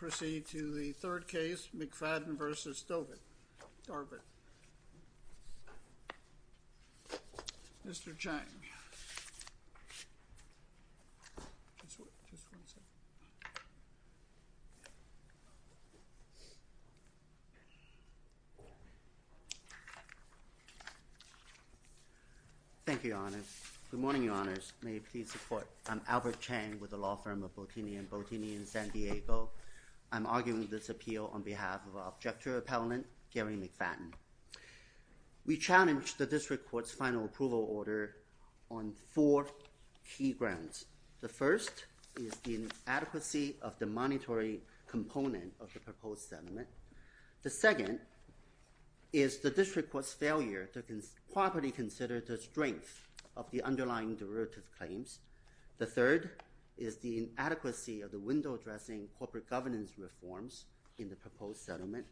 We will now proceed to the third case, McFadden v. Dorvit. Mr. Chang. Thank you, Your Honors. Good morning, Your Honors. May you please support. I'm Albert Chang with the law firm of Bottini & Bottini in San Diego. I'm arguing this appeal on behalf of our objective appellant, Gary McFadden. We challenge the district court's final approval order on four key grounds. The first is the inadequacy of the monetary component of the proposed settlement. The second is the district court's failure to properly consider the strength of the underlying derivative claims. The third is the inadequacy of the window addressing corporate governance reforms in the proposed settlement.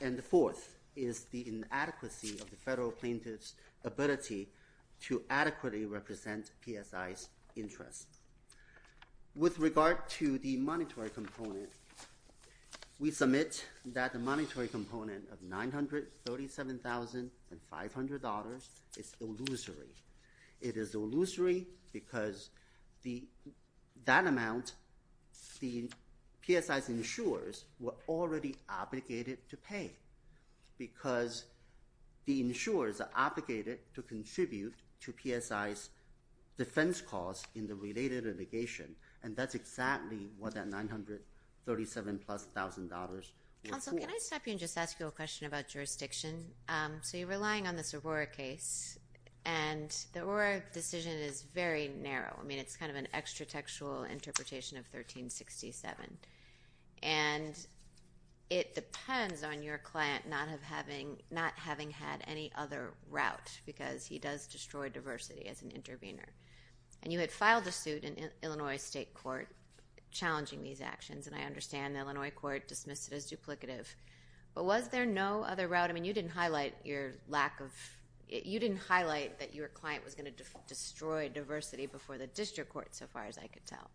And the fourth is the inadequacy of the federal plaintiff's ability to adequately represent PSI's interests. With regard to the monetary component, we submit that the monetary component of $937,500 is illusory. It is illusory because that amount, the PSI's insurers were already obligated to pay because the insurers are obligated to contribute to PSI's defense costs in the related litigation. And that's exactly what that $937,000 plus was for. Also, can I stop you and just ask you a question about jurisdiction? So you're relying on this Aurora case, and the Aurora decision is very narrow. I mean, it's kind of an extra-textual interpretation of 1367. And it depends on your client not having had any other route because he does destroy diversity as an intervener. And you had filed a suit in Illinois State Court challenging these actions, and I understand the Illinois court dismissed it as duplicative. But was there no other route? I mean, you didn't highlight that your client was going to destroy diversity before the district court, so far as I could tell.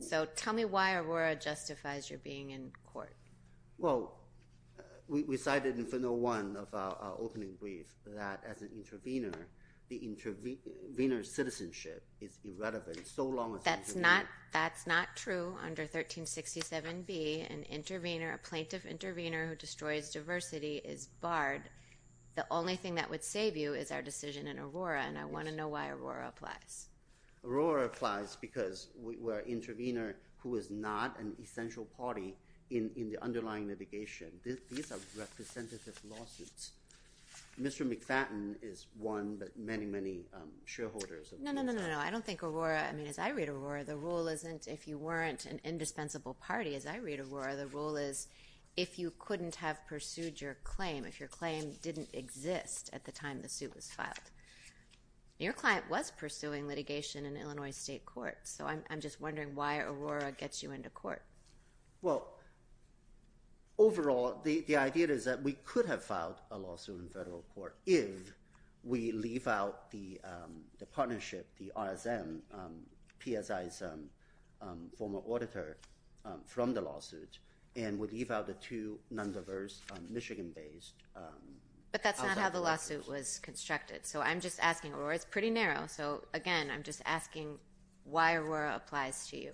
So tell me why Aurora justifies your being in court. Well, we cited in Funnel 1 of our opening brief that as an intervener, the intervener's citizenship is irrelevant so long as— That's not true under 1367B. An intervener, a plaintiff intervener who destroys diversity is barred. The only thing that would save you is our decision in Aurora, and I want to know why Aurora applies. Aurora applies because we're an intervener who is not an essential party in the underlying litigation. These are representative lawsuits. Mr. McFadden is one, but many, many shareholders of— No, no, no, no, no. I don't think Aurora—I mean, as I read Aurora, the rule isn't if you weren't an indispensable party. As I read Aurora, the rule is if you couldn't have pursued your claim, if your claim didn't exist at the time the suit was filed. Your client was pursuing litigation in Illinois State Court, so I'm just wondering why Aurora gets you into court. Well, overall, the idea is that we could have filed a lawsuit in federal court if we leave out the partnership, the RSM, PSISM, former auditor from the lawsuit, and we leave out the two non-diverse Michigan-based— But that's not how the lawsuit was constructed, so I'm just asking. It's pretty narrow, so again, I'm just asking why Aurora applies to you.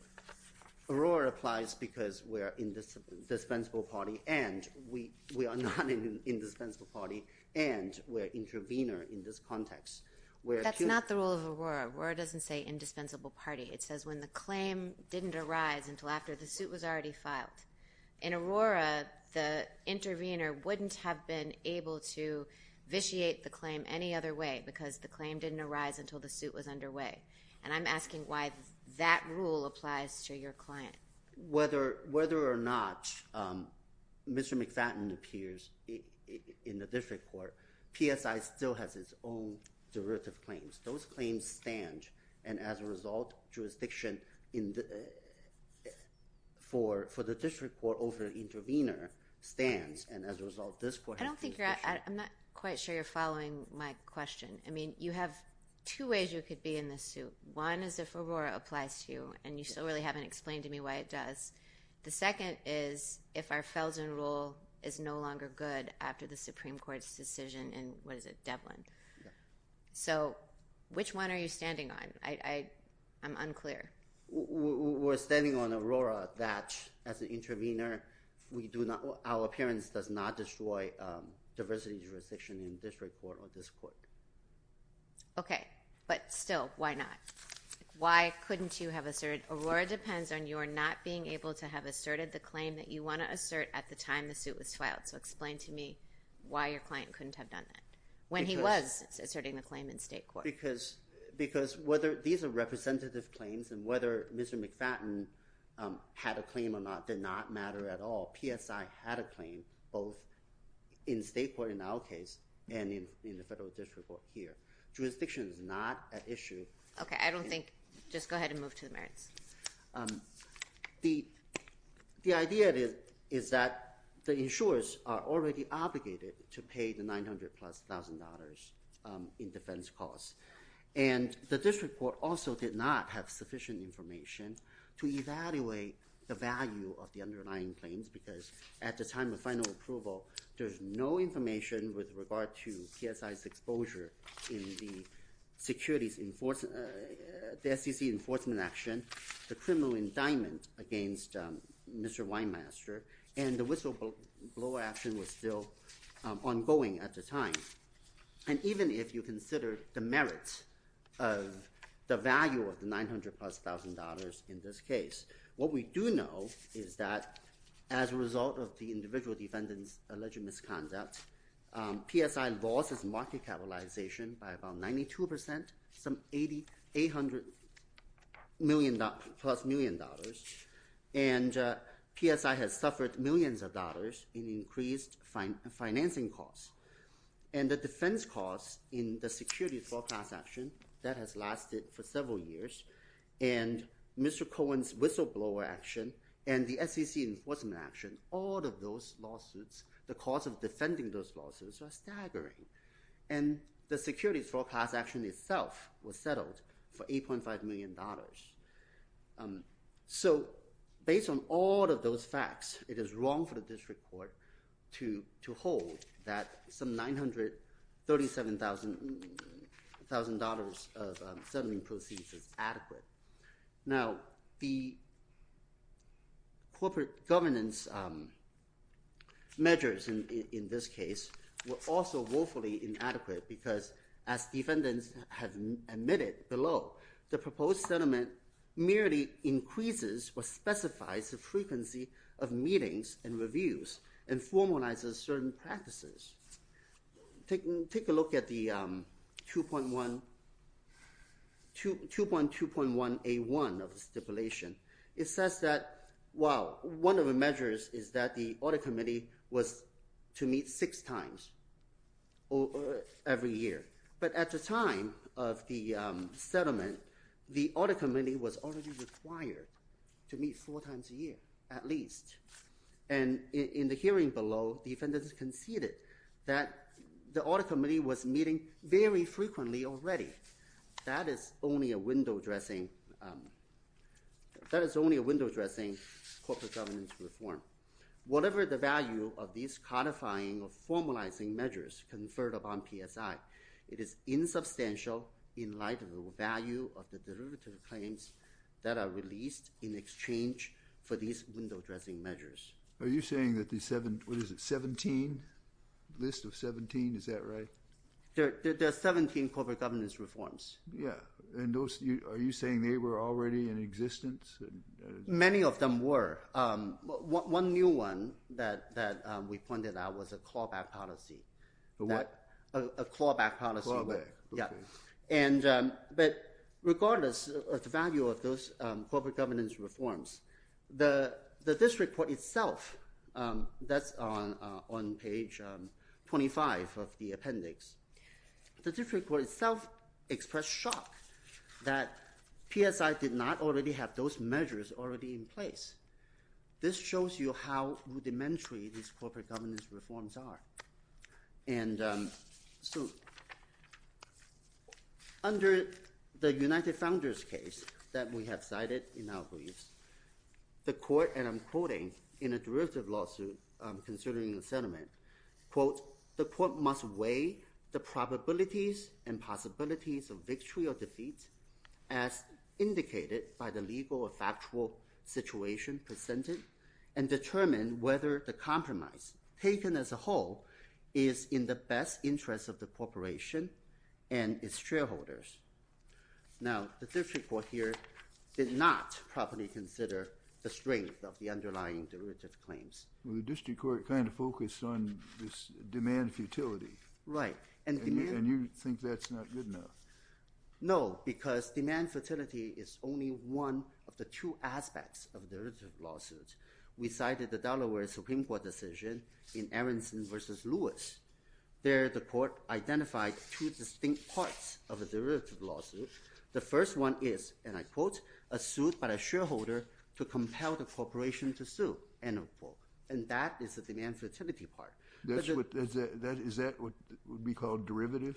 Aurora applies because we're an indispensable party, and we are not an indispensable party, and we're an intervener in this context. That's not the rule of Aurora. Aurora doesn't say indispensable party. It says when the claim didn't arise until after the suit was already filed. In Aurora, the intervener wouldn't have been able to vitiate the claim any other way because the claim didn't arise until the suit was underway, and I'm asking why that rule applies to your client. Whether or not Mr. McFadden appears in the district court, PSI still has its own derivative claims. Those claims stand, and as a result, jurisdiction for the district court over the intervener stands, and as a result, this court— I don't think you're—I'm not quite sure you're following my question. I mean, you have two ways you could be in this suit. One is if Aurora applies to you, and you still really haven't explained to me why it does. The second is if our Feldsman rule is no longer good after the Supreme Court's decision in—what is it?—Devlin. So which one are you standing on? I'm unclear. We're standing on Aurora that, as an intervener, we do not—our appearance does not destroy diversity jurisdiction in district court or this court. Okay, but still, why not? Why couldn't you have asserted—Aurora depends on your not being able to have asserted the claim that you want to assert at the time the suit was filed. So explain to me why your client couldn't have done that. When he was asserting the claim in state court. Because whether—these are representative claims, and whether Mr. McFadden had a claim or not did not matter at all. PSI had a claim, both in state court in our case and in the federal district court here. Jurisdiction is not an issue. Okay, I don't think—just go ahead and move to the merits. The idea is that the insurers are already obligated to pay the $900,000-plus in defense costs. And the district court also did not have sufficient information to evaluate the value of the underlying claims because at the time of final approval, there's no information with regard to PSI's exposure in the securities—the SEC enforcement action, the criminal indictment against Mr. Weinmaster, and the whistleblower action was still ongoing at the time. And even if you consider the merits of the value of the $900,000-plus in this case, what we do know is that as a result of the individual defendant's alleged misconduct, PSI lost its market capitalization by about 92 percent, some $800 million—plus million dollars. And PSI has suffered millions of dollars in increased financing costs. And the defense costs in the security forecast action, that has lasted for several years. And Mr. Cohen's whistleblower action and the SEC enforcement action, all of those lawsuits, the cost of defending those lawsuits are staggering. And the securities forecast action itself was settled for $8.5 million. So based on all of those facts, it is wrong for the district court to hold that some $937,000 of settling proceeds is adequate. Now, the corporate governance measures in this case were also woefully inadequate because as defendants have admitted below, the proposed settlement merely increases or specifies the frequency of meetings and reviews and formalizes certain practices. Take a look at the 2.1—2.2.1A1 of the stipulation. It says that—well, one of the measures is that the audit committee was to meet six times every year. But at the time of the settlement, the audit committee was already required to meet four times a year at least. And in the hearing below, defendants conceded that the audit committee was meeting very frequently already. That is only a window dressing corporate governance reform. Whatever the value of these codifying or formalizing measures conferred upon PSI, it is insubstantial in light of the value of the derivative claims that are released in exchange for these window dressing measures. Are you saying that the 17—what is it, 17? The list of 17, is that right? There are 17 corporate governance reforms. Yeah. And those—are you saying they were already in existence? Many of them were. One new one that we pointed out was a clawback policy. A what? A clawback policy. Clawback, okay. Yeah. And—but regardless of the value of those corporate governance reforms, the district court itself, that's on page 25 of the appendix, the district court itself expressed shock that PSI did not already have those measures already in place. This shows you how rudimentary these corporate governance reforms are. And so under the United Founders case that we have cited in our briefs, the court—and I'm quoting in a derivative lawsuit, considering the settlement, quote, the court must weigh the probabilities and possibilities of victory or defeat as indicated by the legal or factual situation presented and determine whether the compromise taken as a whole is in the best interest of the corporation and its shareholders. Now, the district court here did not properly consider the strength of the underlying derivative claims. Well, the district court kind of focused on this demand futility. Right. And you think that's not good enough? No, because demand futility is only one of the two aspects of a derivative lawsuit. We cited the Delaware Supreme Court decision in Aronson v. Lewis. There the court identified two distinct parts of a derivative lawsuit. The first one is, and I quote, a suit by a shareholder to compel the corporation to sue, end of quote. And that is the demand futility part. Is that what would be called derivative?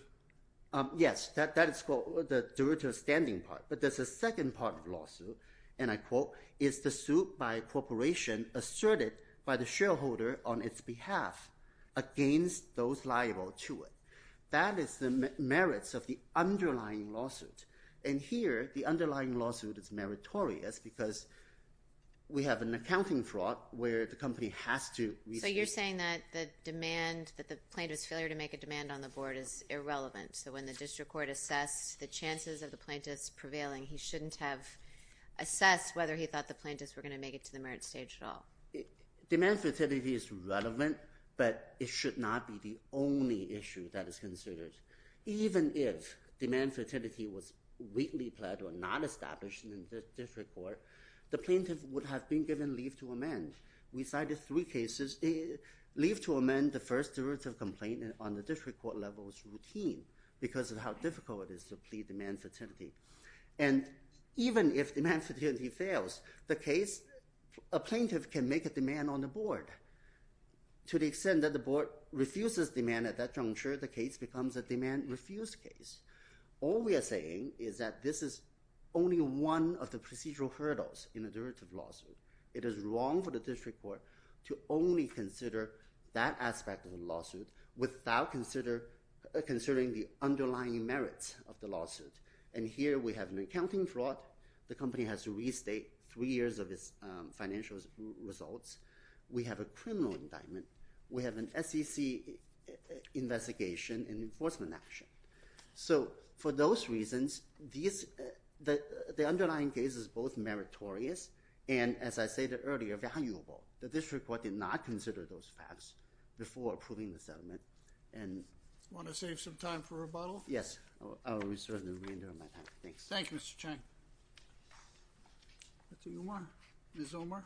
Yes, that is the derivative standing part. But there's a second part of the lawsuit, and I quote, is the suit by a corporation asserted by the shareholder on its behalf against those liable to it. That is the merits of the underlying lawsuit. And here the underlying lawsuit is meritorious because we have an accounting fraud where the company has to receive. So you're saying that the demand, that the plaintiff's failure to make a demand on the board is irrelevant. So when the district court assessed the chances of the plaintiff's prevailing, he shouldn't have assessed whether he thought the plaintiffs were going to make it to the merit stage at all. Demand futility is relevant, but it should not be the only issue that is considered. Even if demand futility was weakly pled or not established in the district court, the plaintiff would have been given leave to amend. We cited three cases. Leave to amend the first derivative complaint on the district court level is routine because of how difficult it is to plead demand futility. And even if demand futility fails, the case, a plaintiff can make a demand on the board. To the extent that the board refuses demand at that juncture, the case becomes a demand-refused case. All we are saying is that this is only one of the procedural hurdles in a derivative lawsuit. It is wrong for the district court to only consider that aspect of the lawsuit without considering the underlying merits of the lawsuit. And here we have an accounting fraud. The company has to restate three years of its financial results. We have a criminal indictment. We have an SEC investigation and enforcement action. So for those reasons, the underlying case is both meritorious and, as I stated earlier, valuable. The district court did not consider those facts before approving the settlement. Do you want to save some time for rebuttal? Yes, I will reserve the remainder of my time. Thanks. Thank you, Mr. Cheng. That's who you are. Ms. Omer.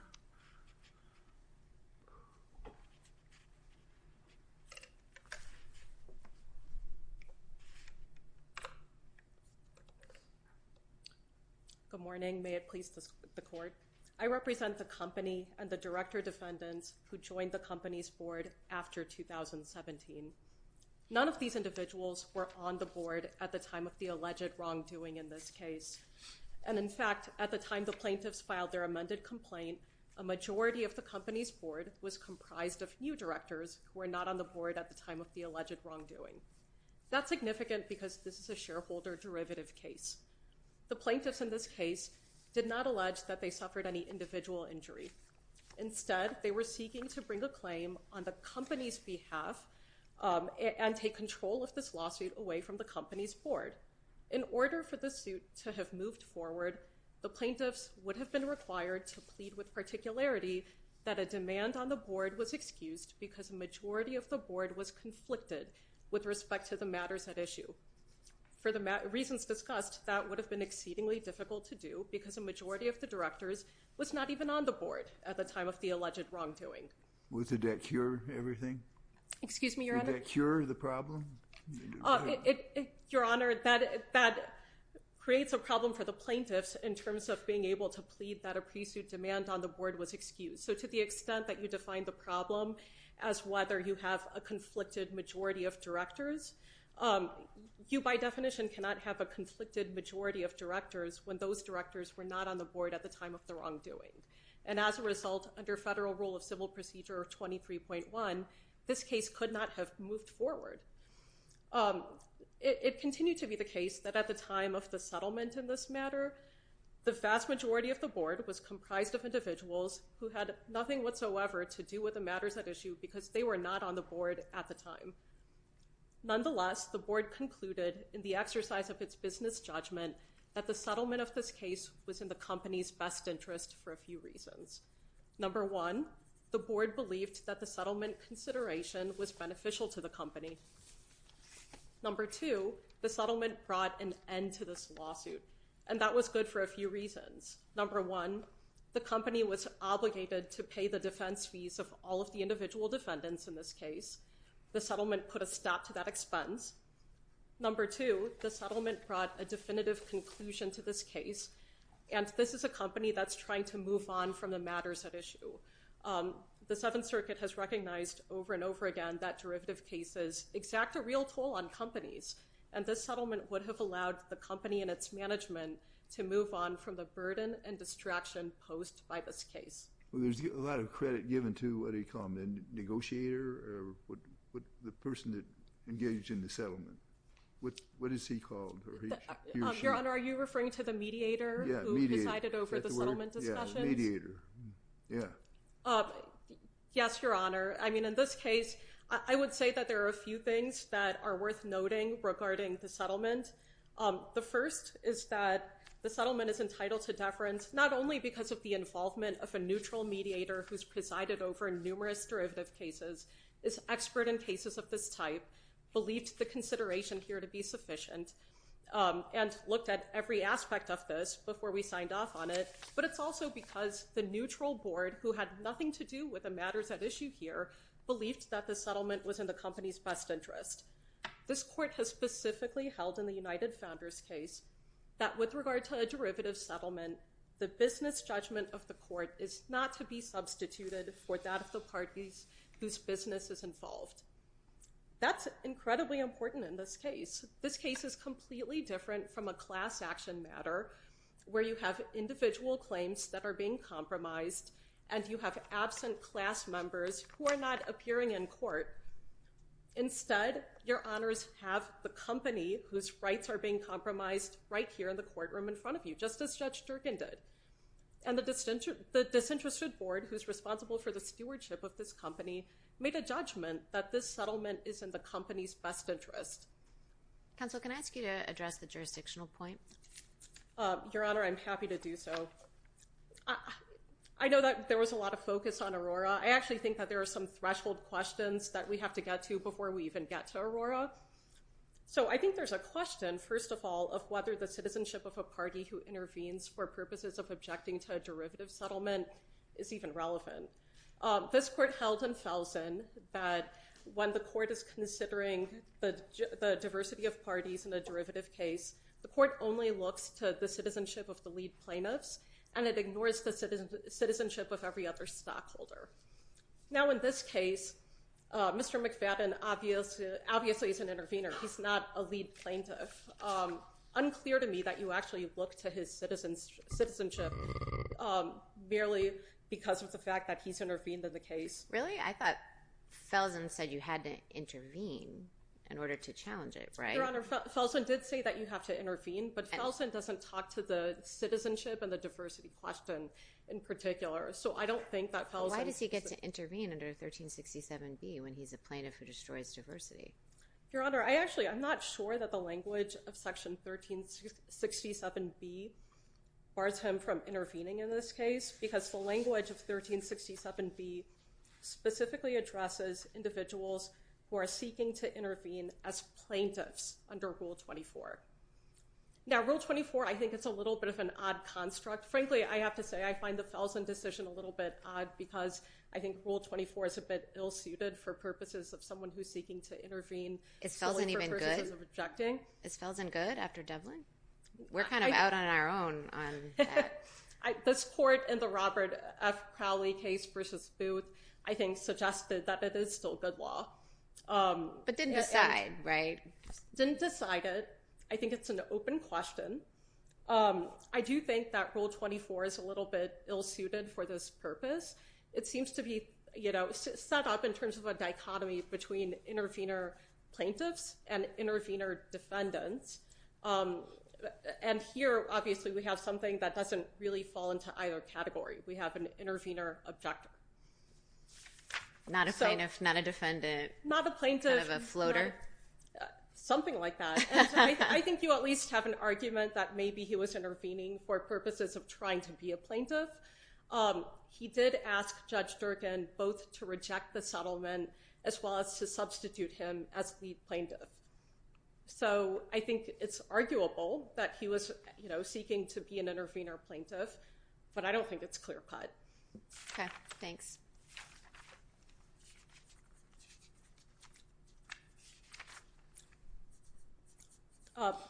Good morning. May it please the court. I represent the company and the director defendants who joined the company's board after 2017. None of these individuals were on the board at the time of the alleged wrongdoing in this case. And, in fact, at the time the plaintiffs filed their amended complaint, a majority of the company's board was comprised of new directors who were not on the board at the time of the alleged wrongdoing. That's significant because this is a shareholder derivative case. The plaintiffs in this case did not allege that they suffered any individual injury. Instead, they were seeking to bring a claim on the company's behalf and take control of this lawsuit away from the company's board. In order for this suit to have moved forward, the plaintiffs would have been required to plead with particularity that a demand on the board was excused because a majority of the board was conflicted with respect to the matters at issue. For the reasons discussed, that would have been exceedingly difficult to do because a majority of the directors was not even on the board at the time of the alleged wrongdoing. Would that cure everything? Excuse me, Your Honor. Would that cure the problem? Your Honor, that creates a problem for the plaintiffs in terms of being able to plead that a pre-suit demand on the board was excused. To the extent that you define the problem as whether you have a conflicted majority of directors, you by definition cannot have a conflicted majority of directors when those directors were not on the board at the time of the wrongdoing. As a result, under Federal Rule of Civil Procedure 23.1, this case could not have moved forward. It continued to be the case that at the time of the settlement in this matter, the vast majority of the board was comprised of individuals who had nothing whatsoever to do with the matters at issue because they were not on the board at the time. Nonetheless, the board concluded in the exercise of its business judgment that the settlement of this case was in the company's best interest for a few reasons. Number one, the board believed that the settlement consideration was beneficial to the company. Number two, the settlement brought an end to this lawsuit, and that was good for a few reasons. Number one, the company was obligated to pay the defense fees of all of the individual defendants in this case. The settlement put a stop to that expense. Number two, the settlement brought a definitive conclusion to this case, and this is a company that's trying to move on from the matters at issue. The Seventh Circuit has recognized over and over again that derivative cases exact a real toll on companies, and this settlement would have allowed the company and its management to move on from the burden and distraction posed by this case. Well, there's a lot of credit given to what he called a negotiator or the person that engaged in the settlement. What is he called? Your Honor, are you referring to the mediator who presided over the settlement discussions? Yeah, mediator. Yes, Your Honor. I mean, in this case, I would say that there are a few things that are worth noting regarding the settlement. The first is that the settlement is entitled to deference not only because of the involvement of a neutral mediator who's presided over numerous derivative cases, is expert in cases of this type, believed the consideration here to be sufficient, and looked at every aspect of this before we signed off on it, but it's also because the neutral board, who had nothing to do with the matters at issue here, believed that the settlement was in the company's best interest. This court has specifically held in the United Founders case that with regard to a derivative settlement, the business judgment of the court is not to be substituted for that of the parties whose business is involved. That's incredibly important in this case. This case is completely different from a class action matter where you have individual claims that are being compromised, and you have absent class members who are not appearing in court. Instead, Your Honors have the company whose rights are being compromised right here in the courtroom in front of you, just as Judge Durkin did. And the disinterested board who's responsible for the stewardship of this company made a judgment that this settlement is in the company's best interest. Counsel, can I ask you to address the jurisdictional point? Your Honor, I'm happy to do so. I know that there was a lot of focus on Aurora. I actually think that there are some threshold questions that we have to get to before we even get to Aurora. So I think there's a question, first of all, of whether the citizenship of a party who intervenes for purposes of objecting to a derivative settlement is even relevant. This court held in Felsen that when the court is considering the diversity of parties in a derivative case, the court only looks to the citizenship of the lead plaintiffs, and it ignores the citizenship of every other stockholder. Now, in this case, Mr. McFadden obviously is an intervener. He's not a lead plaintiff. It's unclear to me that you actually look to his citizenship merely because of the fact that he's intervened in the case. Really? I thought Felsen said you had to intervene in order to challenge it, right? Your Honor, Felsen did say that you have to intervene, but Felsen doesn't talk to the citizenship and the diversity question in particular. So I don't think that Felsen— Why does he get to intervene under 1367B when he's a plaintiff who destroys diversity? Your Honor, I actually—I'm not sure that the language of Section 1367B bars him from intervening in this case because the language of 1367B specifically addresses individuals who are seeking to intervene as plaintiffs under Rule 24. Now, Rule 24, I think it's a little bit of an odd construct. Frankly, I have to say I find the Felsen decision a little bit odd because I think Rule 24 is a bit ill-suited for purposes of someone who's seeking to intervene. Is Felsen even good? Is Felsen good after Devlin? We're kind of out on our own on that. This court in the Robert F. Crowley case versus Booth, I think, suggested that it is still good law. But didn't decide, right? Didn't decide it. I think it's an open question. I do think that Rule 24 is a little bit ill-suited for this purpose. It seems to be set up in terms of a dichotomy between intervener plaintiffs and intervener defendants. And here, obviously, we have something that doesn't really fall into either category. We have an intervener objector. Not a plaintiff, not a defendant. Not a plaintiff. Not a floater. Something like that. I think you at least have an argument that maybe he was intervening for purposes of trying to be a plaintiff. He did ask Judge Durkan both to reject the settlement as well as to substitute him as the plaintiff. So I think it's arguable that he was seeking to be an intervener plaintiff. But I don't think it's clear-cut. Okay. Thanks.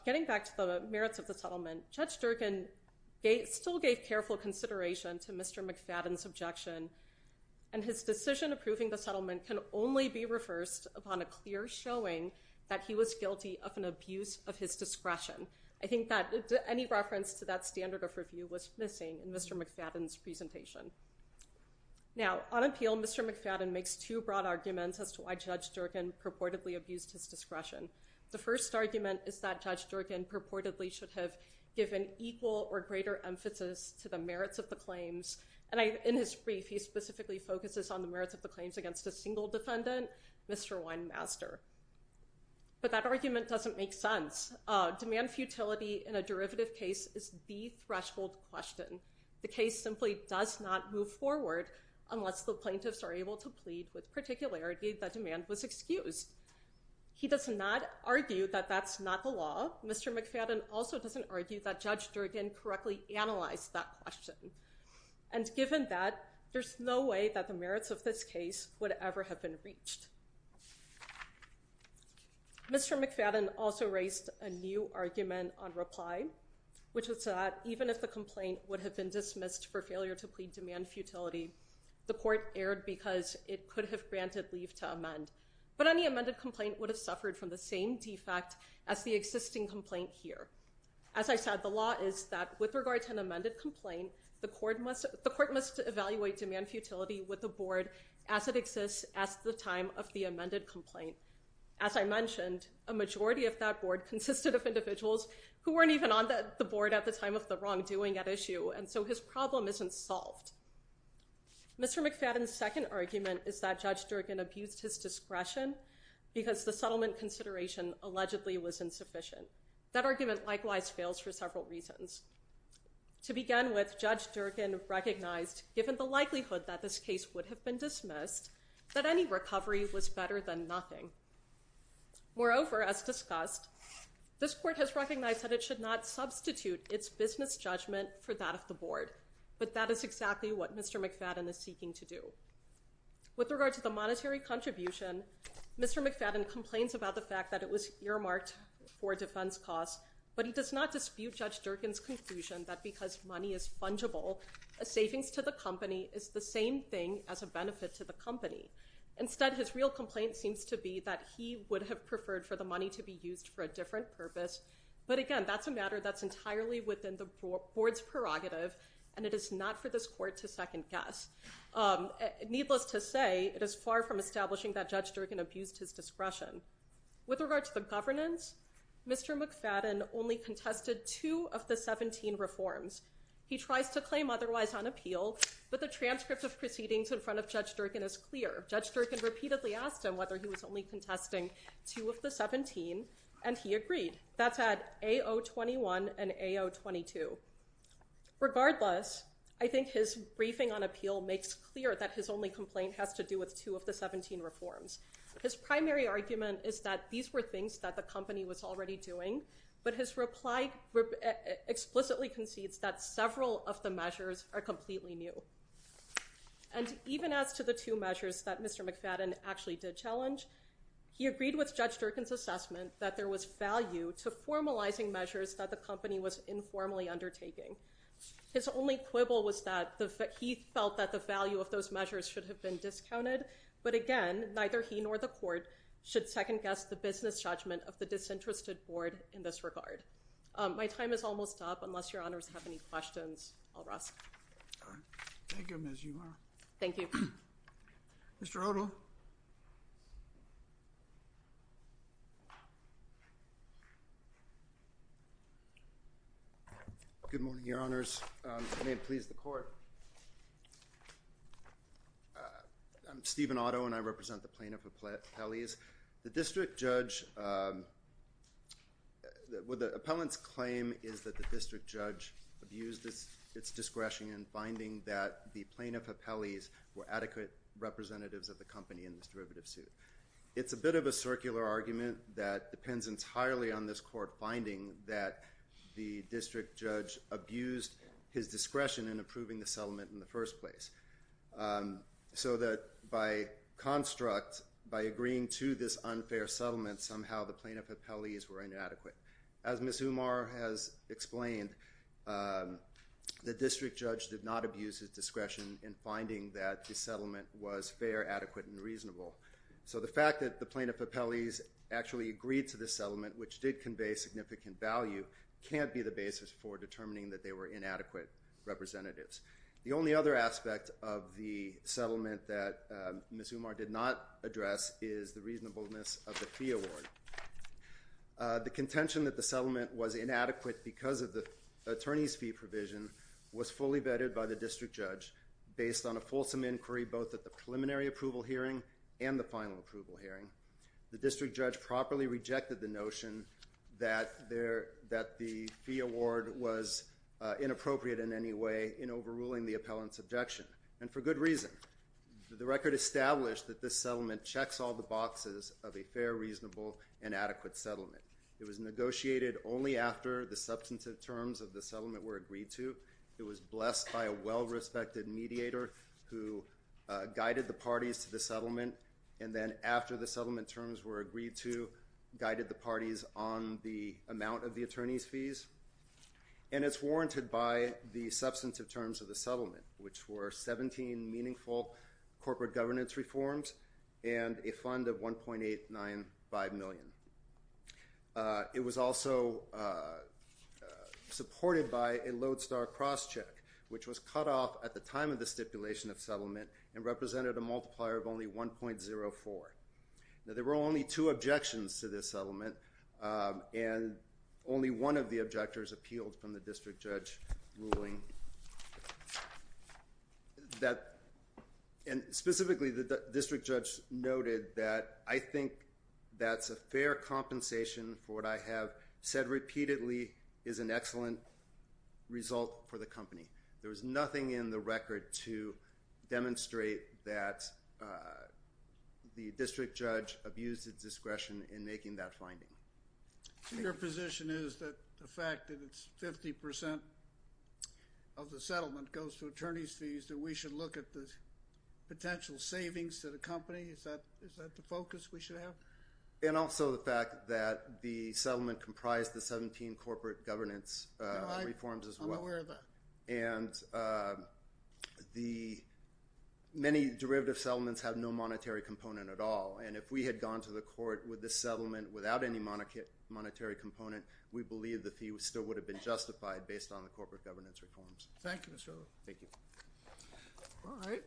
Getting back to the merits of the settlement, Judge Durkan still gave careful consideration to Mr. McFadden's objection. And his decision approving the settlement can only be reversed upon a clear showing that he was guilty of an abuse of his discretion. I think that any reference to that standard of review was missing in Mr. McFadden's presentation. Now, on appeal, Mr. McFadden makes two broad arguments as to why Judge Durkan purportedly abused his discretion. The first argument is that Judge Durkan purportedly should have given equal or greater emphasis to the merits of the claims. And in his brief, he specifically focuses on the merits of the claims against a single defendant, Mr. Winemaster. But that argument doesn't make sense. Demand futility in a derivative case is the threshold question. The case simply does not move forward unless the plaintiffs are able to plead with particularity that demand was excused. He does not argue that that's not the law. Mr. McFadden also doesn't argue that Judge Durkan correctly analyzed that question. And given that, there's no way that the merits of this case would ever have been reached. Mr. McFadden also raised a new argument on reply, which was that even if the complaint would have been dismissed for failure to plead demand futility, the court erred because it could have granted leave to amend. But any amended complaint would have suffered from the same defect as the existing complaint here. As I said, the law is that with regard to an amended complaint, the court must evaluate demand futility with the board as it exists at the time of the amended complaint. As I mentioned, a majority of that board consisted of individuals who weren't even on the board at the time of the wrongdoing at issue. And so his problem isn't solved. Mr. McFadden's second argument is that Judge Durkan abused his discretion because the settlement consideration allegedly was insufficient. That argument likewise fails for several reasons. To begin with, Judge Durkan recognized, given the likelihood that this case would have been dismissed, that any recovery was better than nothing. Moreover, as discussed, this court has recognized that it should not substitute its business judgment for that of the board. But that is exactly what Mr. McFadden is seeking to do. With regard to the monetary contribution, Mr. McFadden complains about the fact that it was earmarked for defense costs. But he does not dispute Judge Durkan's conclusion that because money is fungible, a savings to the company is the same thing as a benefit to the company. Instead, his real complaint seems to be that he would have preferred for the money to be used for a different purpose. But again, that's a matter that's entirely within the board's prerogative, and it is not for this court to second guess. Needless to say, it is far from establishing that Judge Durkan abused his discretion. With regard to the governance, Mr. McFadden only contested two of the 17 reforms. He tries to claim otherwise on appeal, but the transcript of proceedings in front of Judge Durkan is clear. Judge Durkan repeatedly asked him whether he was only contesting two of the 17, and he agreed. That's at A.O. 21 and A.O. 22. Regardless, I think his briefing on appeal makes clear that his only complaint has to do with two of the 17 reforms. His primary argument is that these were things that the company was already doing, but his reply explicitly concedes that several of the measures are completely new. And even as to the two measures that Mr. McFadden actually did challenge, he agreed with Judge Durkan's assessment that there was value to formalizing measures that the company was informally undertaking. His only quibble was that he felt that the value of those measures should have been discounted. But again, neither he nor the court should second guess the business judgment of the disinterested board in this regard. My time is almost up. Unless your honors have any questions, I'll ask. Thank you, Ms. Euler. Thank you. Mr. Otto. Good morning, your honors. May it please the court. I'm Stephen Otto, and I represent the plaintiff with Pelley's. The district judge—the appellant's claim is that the district judge abused its discretion in finding that the plaintiff of Pelley's were adequate representatives of the company in this derivative suit. It's a bit of a circular argument that depends entirely on this court finding that the district judge abused his discretion in approving the settlement in the first place. So that by construct, by agreeing to this unfair settlement, somehow the plaintiff of Pelley's were inadequate. As Ms. Umar has explained, the district judge did not abuse his discretion in finding that the settlement was fair, adequate, and reasonable. So the fact that the plaintiff of Pelley's actually agreed to this settlement, which did convey significant value, can't be the basis for determining that they were inadequate representatives. The only other aspect of the settlement that Ms. Umar did not address is the reasonableness of the fee award. The contention that the settlement was inadequate because of the attorney's fee provision was fully vetted by the district judge based on a fulsome inquiry both at the preliminary approval hearing and the final approval hearing. The district judge properly rejected the notion that the fee award was inappropriate in any way in overruling the appellant's objection, and for good reason. The record established that this settlement checks all the boxes of a fair, reasonable, and adequate settlement. It was negotiated only after the substantive terms of the settlement were agreed to. It was blessed by a well-respected mediator who guided the parties to the settlement, and then after the settlement terms were agreed to, guided the parties on the amount of the attorney's fees. And it's warranted by the substantive terms of the settlement, which were 17 meaningful corporate governance reforms and a fund of $1.895 million. It was also supported by a lodestar crosscheck, which was cut off at the time of the stipulation of settlement and represented a multiplier of only 1.04. Now, there were only two objections to this settlement, and only one of the objectors appealed from the district judge's ruling. And specifically, the district judge noted that, I think that's a fair compensation for what I have said repeatedly is an excellent result for the company. There was nothing in the record to demonstrate that the district judge abused its discretion in making that finding. Your position is that the fact that it's 50% of the settlement goes to attorney's fees, that we should look at the potential savings to the company? Is that the focus we should have? And also the fact that the settlement comprised the 17 corporate governance reforms as well. And the many derivative settlements have no monetary component at all. And if we had gone to the court with this settlement without any monetary component, we believe the fee still would have been justified based on the corporate governance reforms. Thank you, Mr. O'Rourke. Thank you. All right.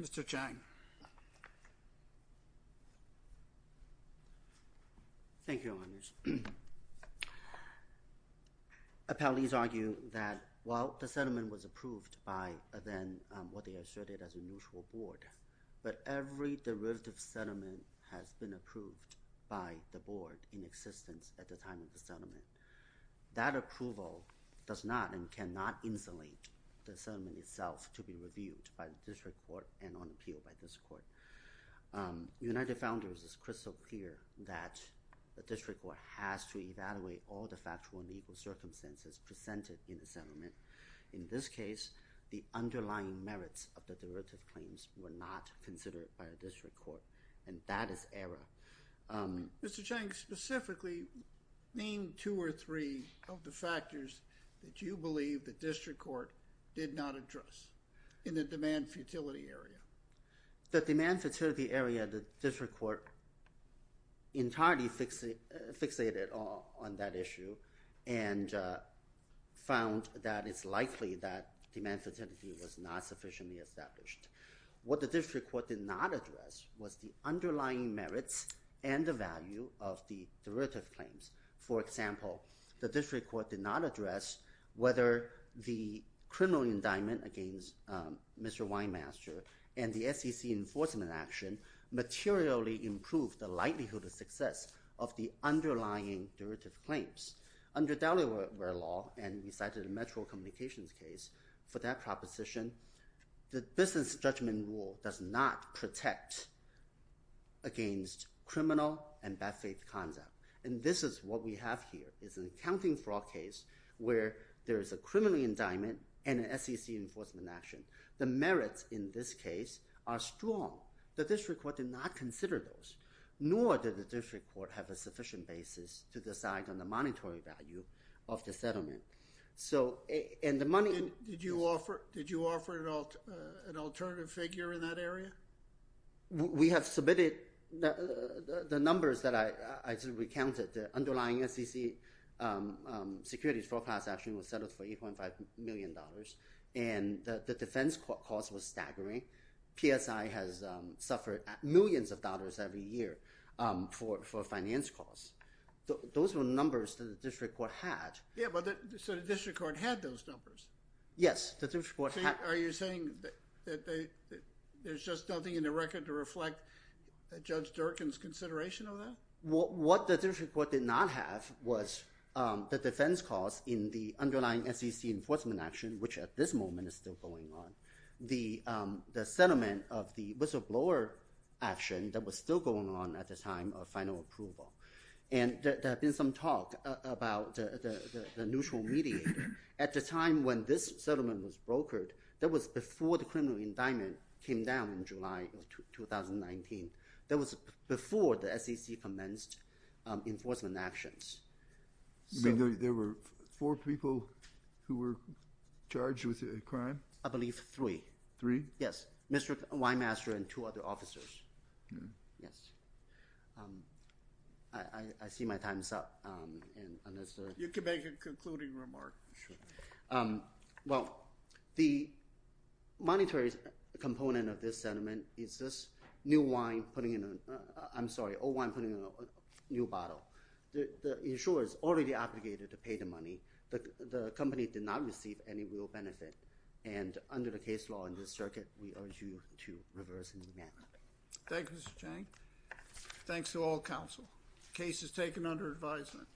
Mr. Chang. Thank you, Your Honors. Appellees argue that while the settlement was approved by then what they asserted as a neutral board, but every derivative settlement has been approved by the board in existence at the time of the settlement. That approval does not and cannot insulate the settlement itself to be reviewed by the district court and on appeal by this court. United Founders is crystal clear that the district court has to evaluate all the factual and legal circumstances presented in the settlement. In this case, the underlying merits of the derivative claims were not considered by the district court, and that is error. Mr. Chang, specifically, name two or three of the factors that you believe the district court did not address in the demand futility area. The demand futility area, the district court entirely fixated on that issue and found that it's likely that demand futility was not sufficiently established. What the district court did not address was the underlying merits and the value of the derivative claims. For example, the district court did not address whether the criminal indictment against Mr. Winemaster and the SEC enforcement action materially improved the likelihood of success of the underlying derivative claims. Under Delaware law, and we cited a Metro Communications case for that proposition, the business judgment rule does not protect against criminal and bad faith conduct. And this is what we have here. It's an accounting fraud case where there is a criminal indictment and an SEC enforcement action. The merits in this case are strong. The district court did not consider those, nor did the district court have a sufficient basis to decide on the monetary value of the settlement. Did you offer an alternative figure in that area? We have submitted the numbers that I recounted. The underlying SEC securities foreclass action was settled for $8.5 million, and the defense cost was staggering. PSI has suffered millions of dollars every year for finance costs. Those were numbers that the district court had. Yeah, but so the district court had those numbers? Yes, the district court had. Are you saying that there's just nothing in the record to reflect Judge Durkin's consideration of that? What the district court did not have was the defense cost in the underlying SEC enforcement action, which at this moment is still going on. The settlement of the whistleblower action that was still going on at the time of final approval. There has been some talk about the neutral mediator. At the time when this settlement was brokered, that was before the criminal indictment came down in July of 2019. That was before the SEC commenced enforcement actions. There were four people who were charged with the crime? I believe three. Three? Yes, Mr. Weinmaster and two other officers. Yes. I see my time is up. You can make a concluding remark. Well, the monetary component of this settlement is this new wine putting in a—I'm sorry, old wine putting in a new bottle. The insurer is already obligated to pay the money. The company did not receive any real benefit. And under the case law in this circuit, we urge you to reverse the demand. Thank you, Mr. Chang. Thanks to all counsel. The case is taken under advisement.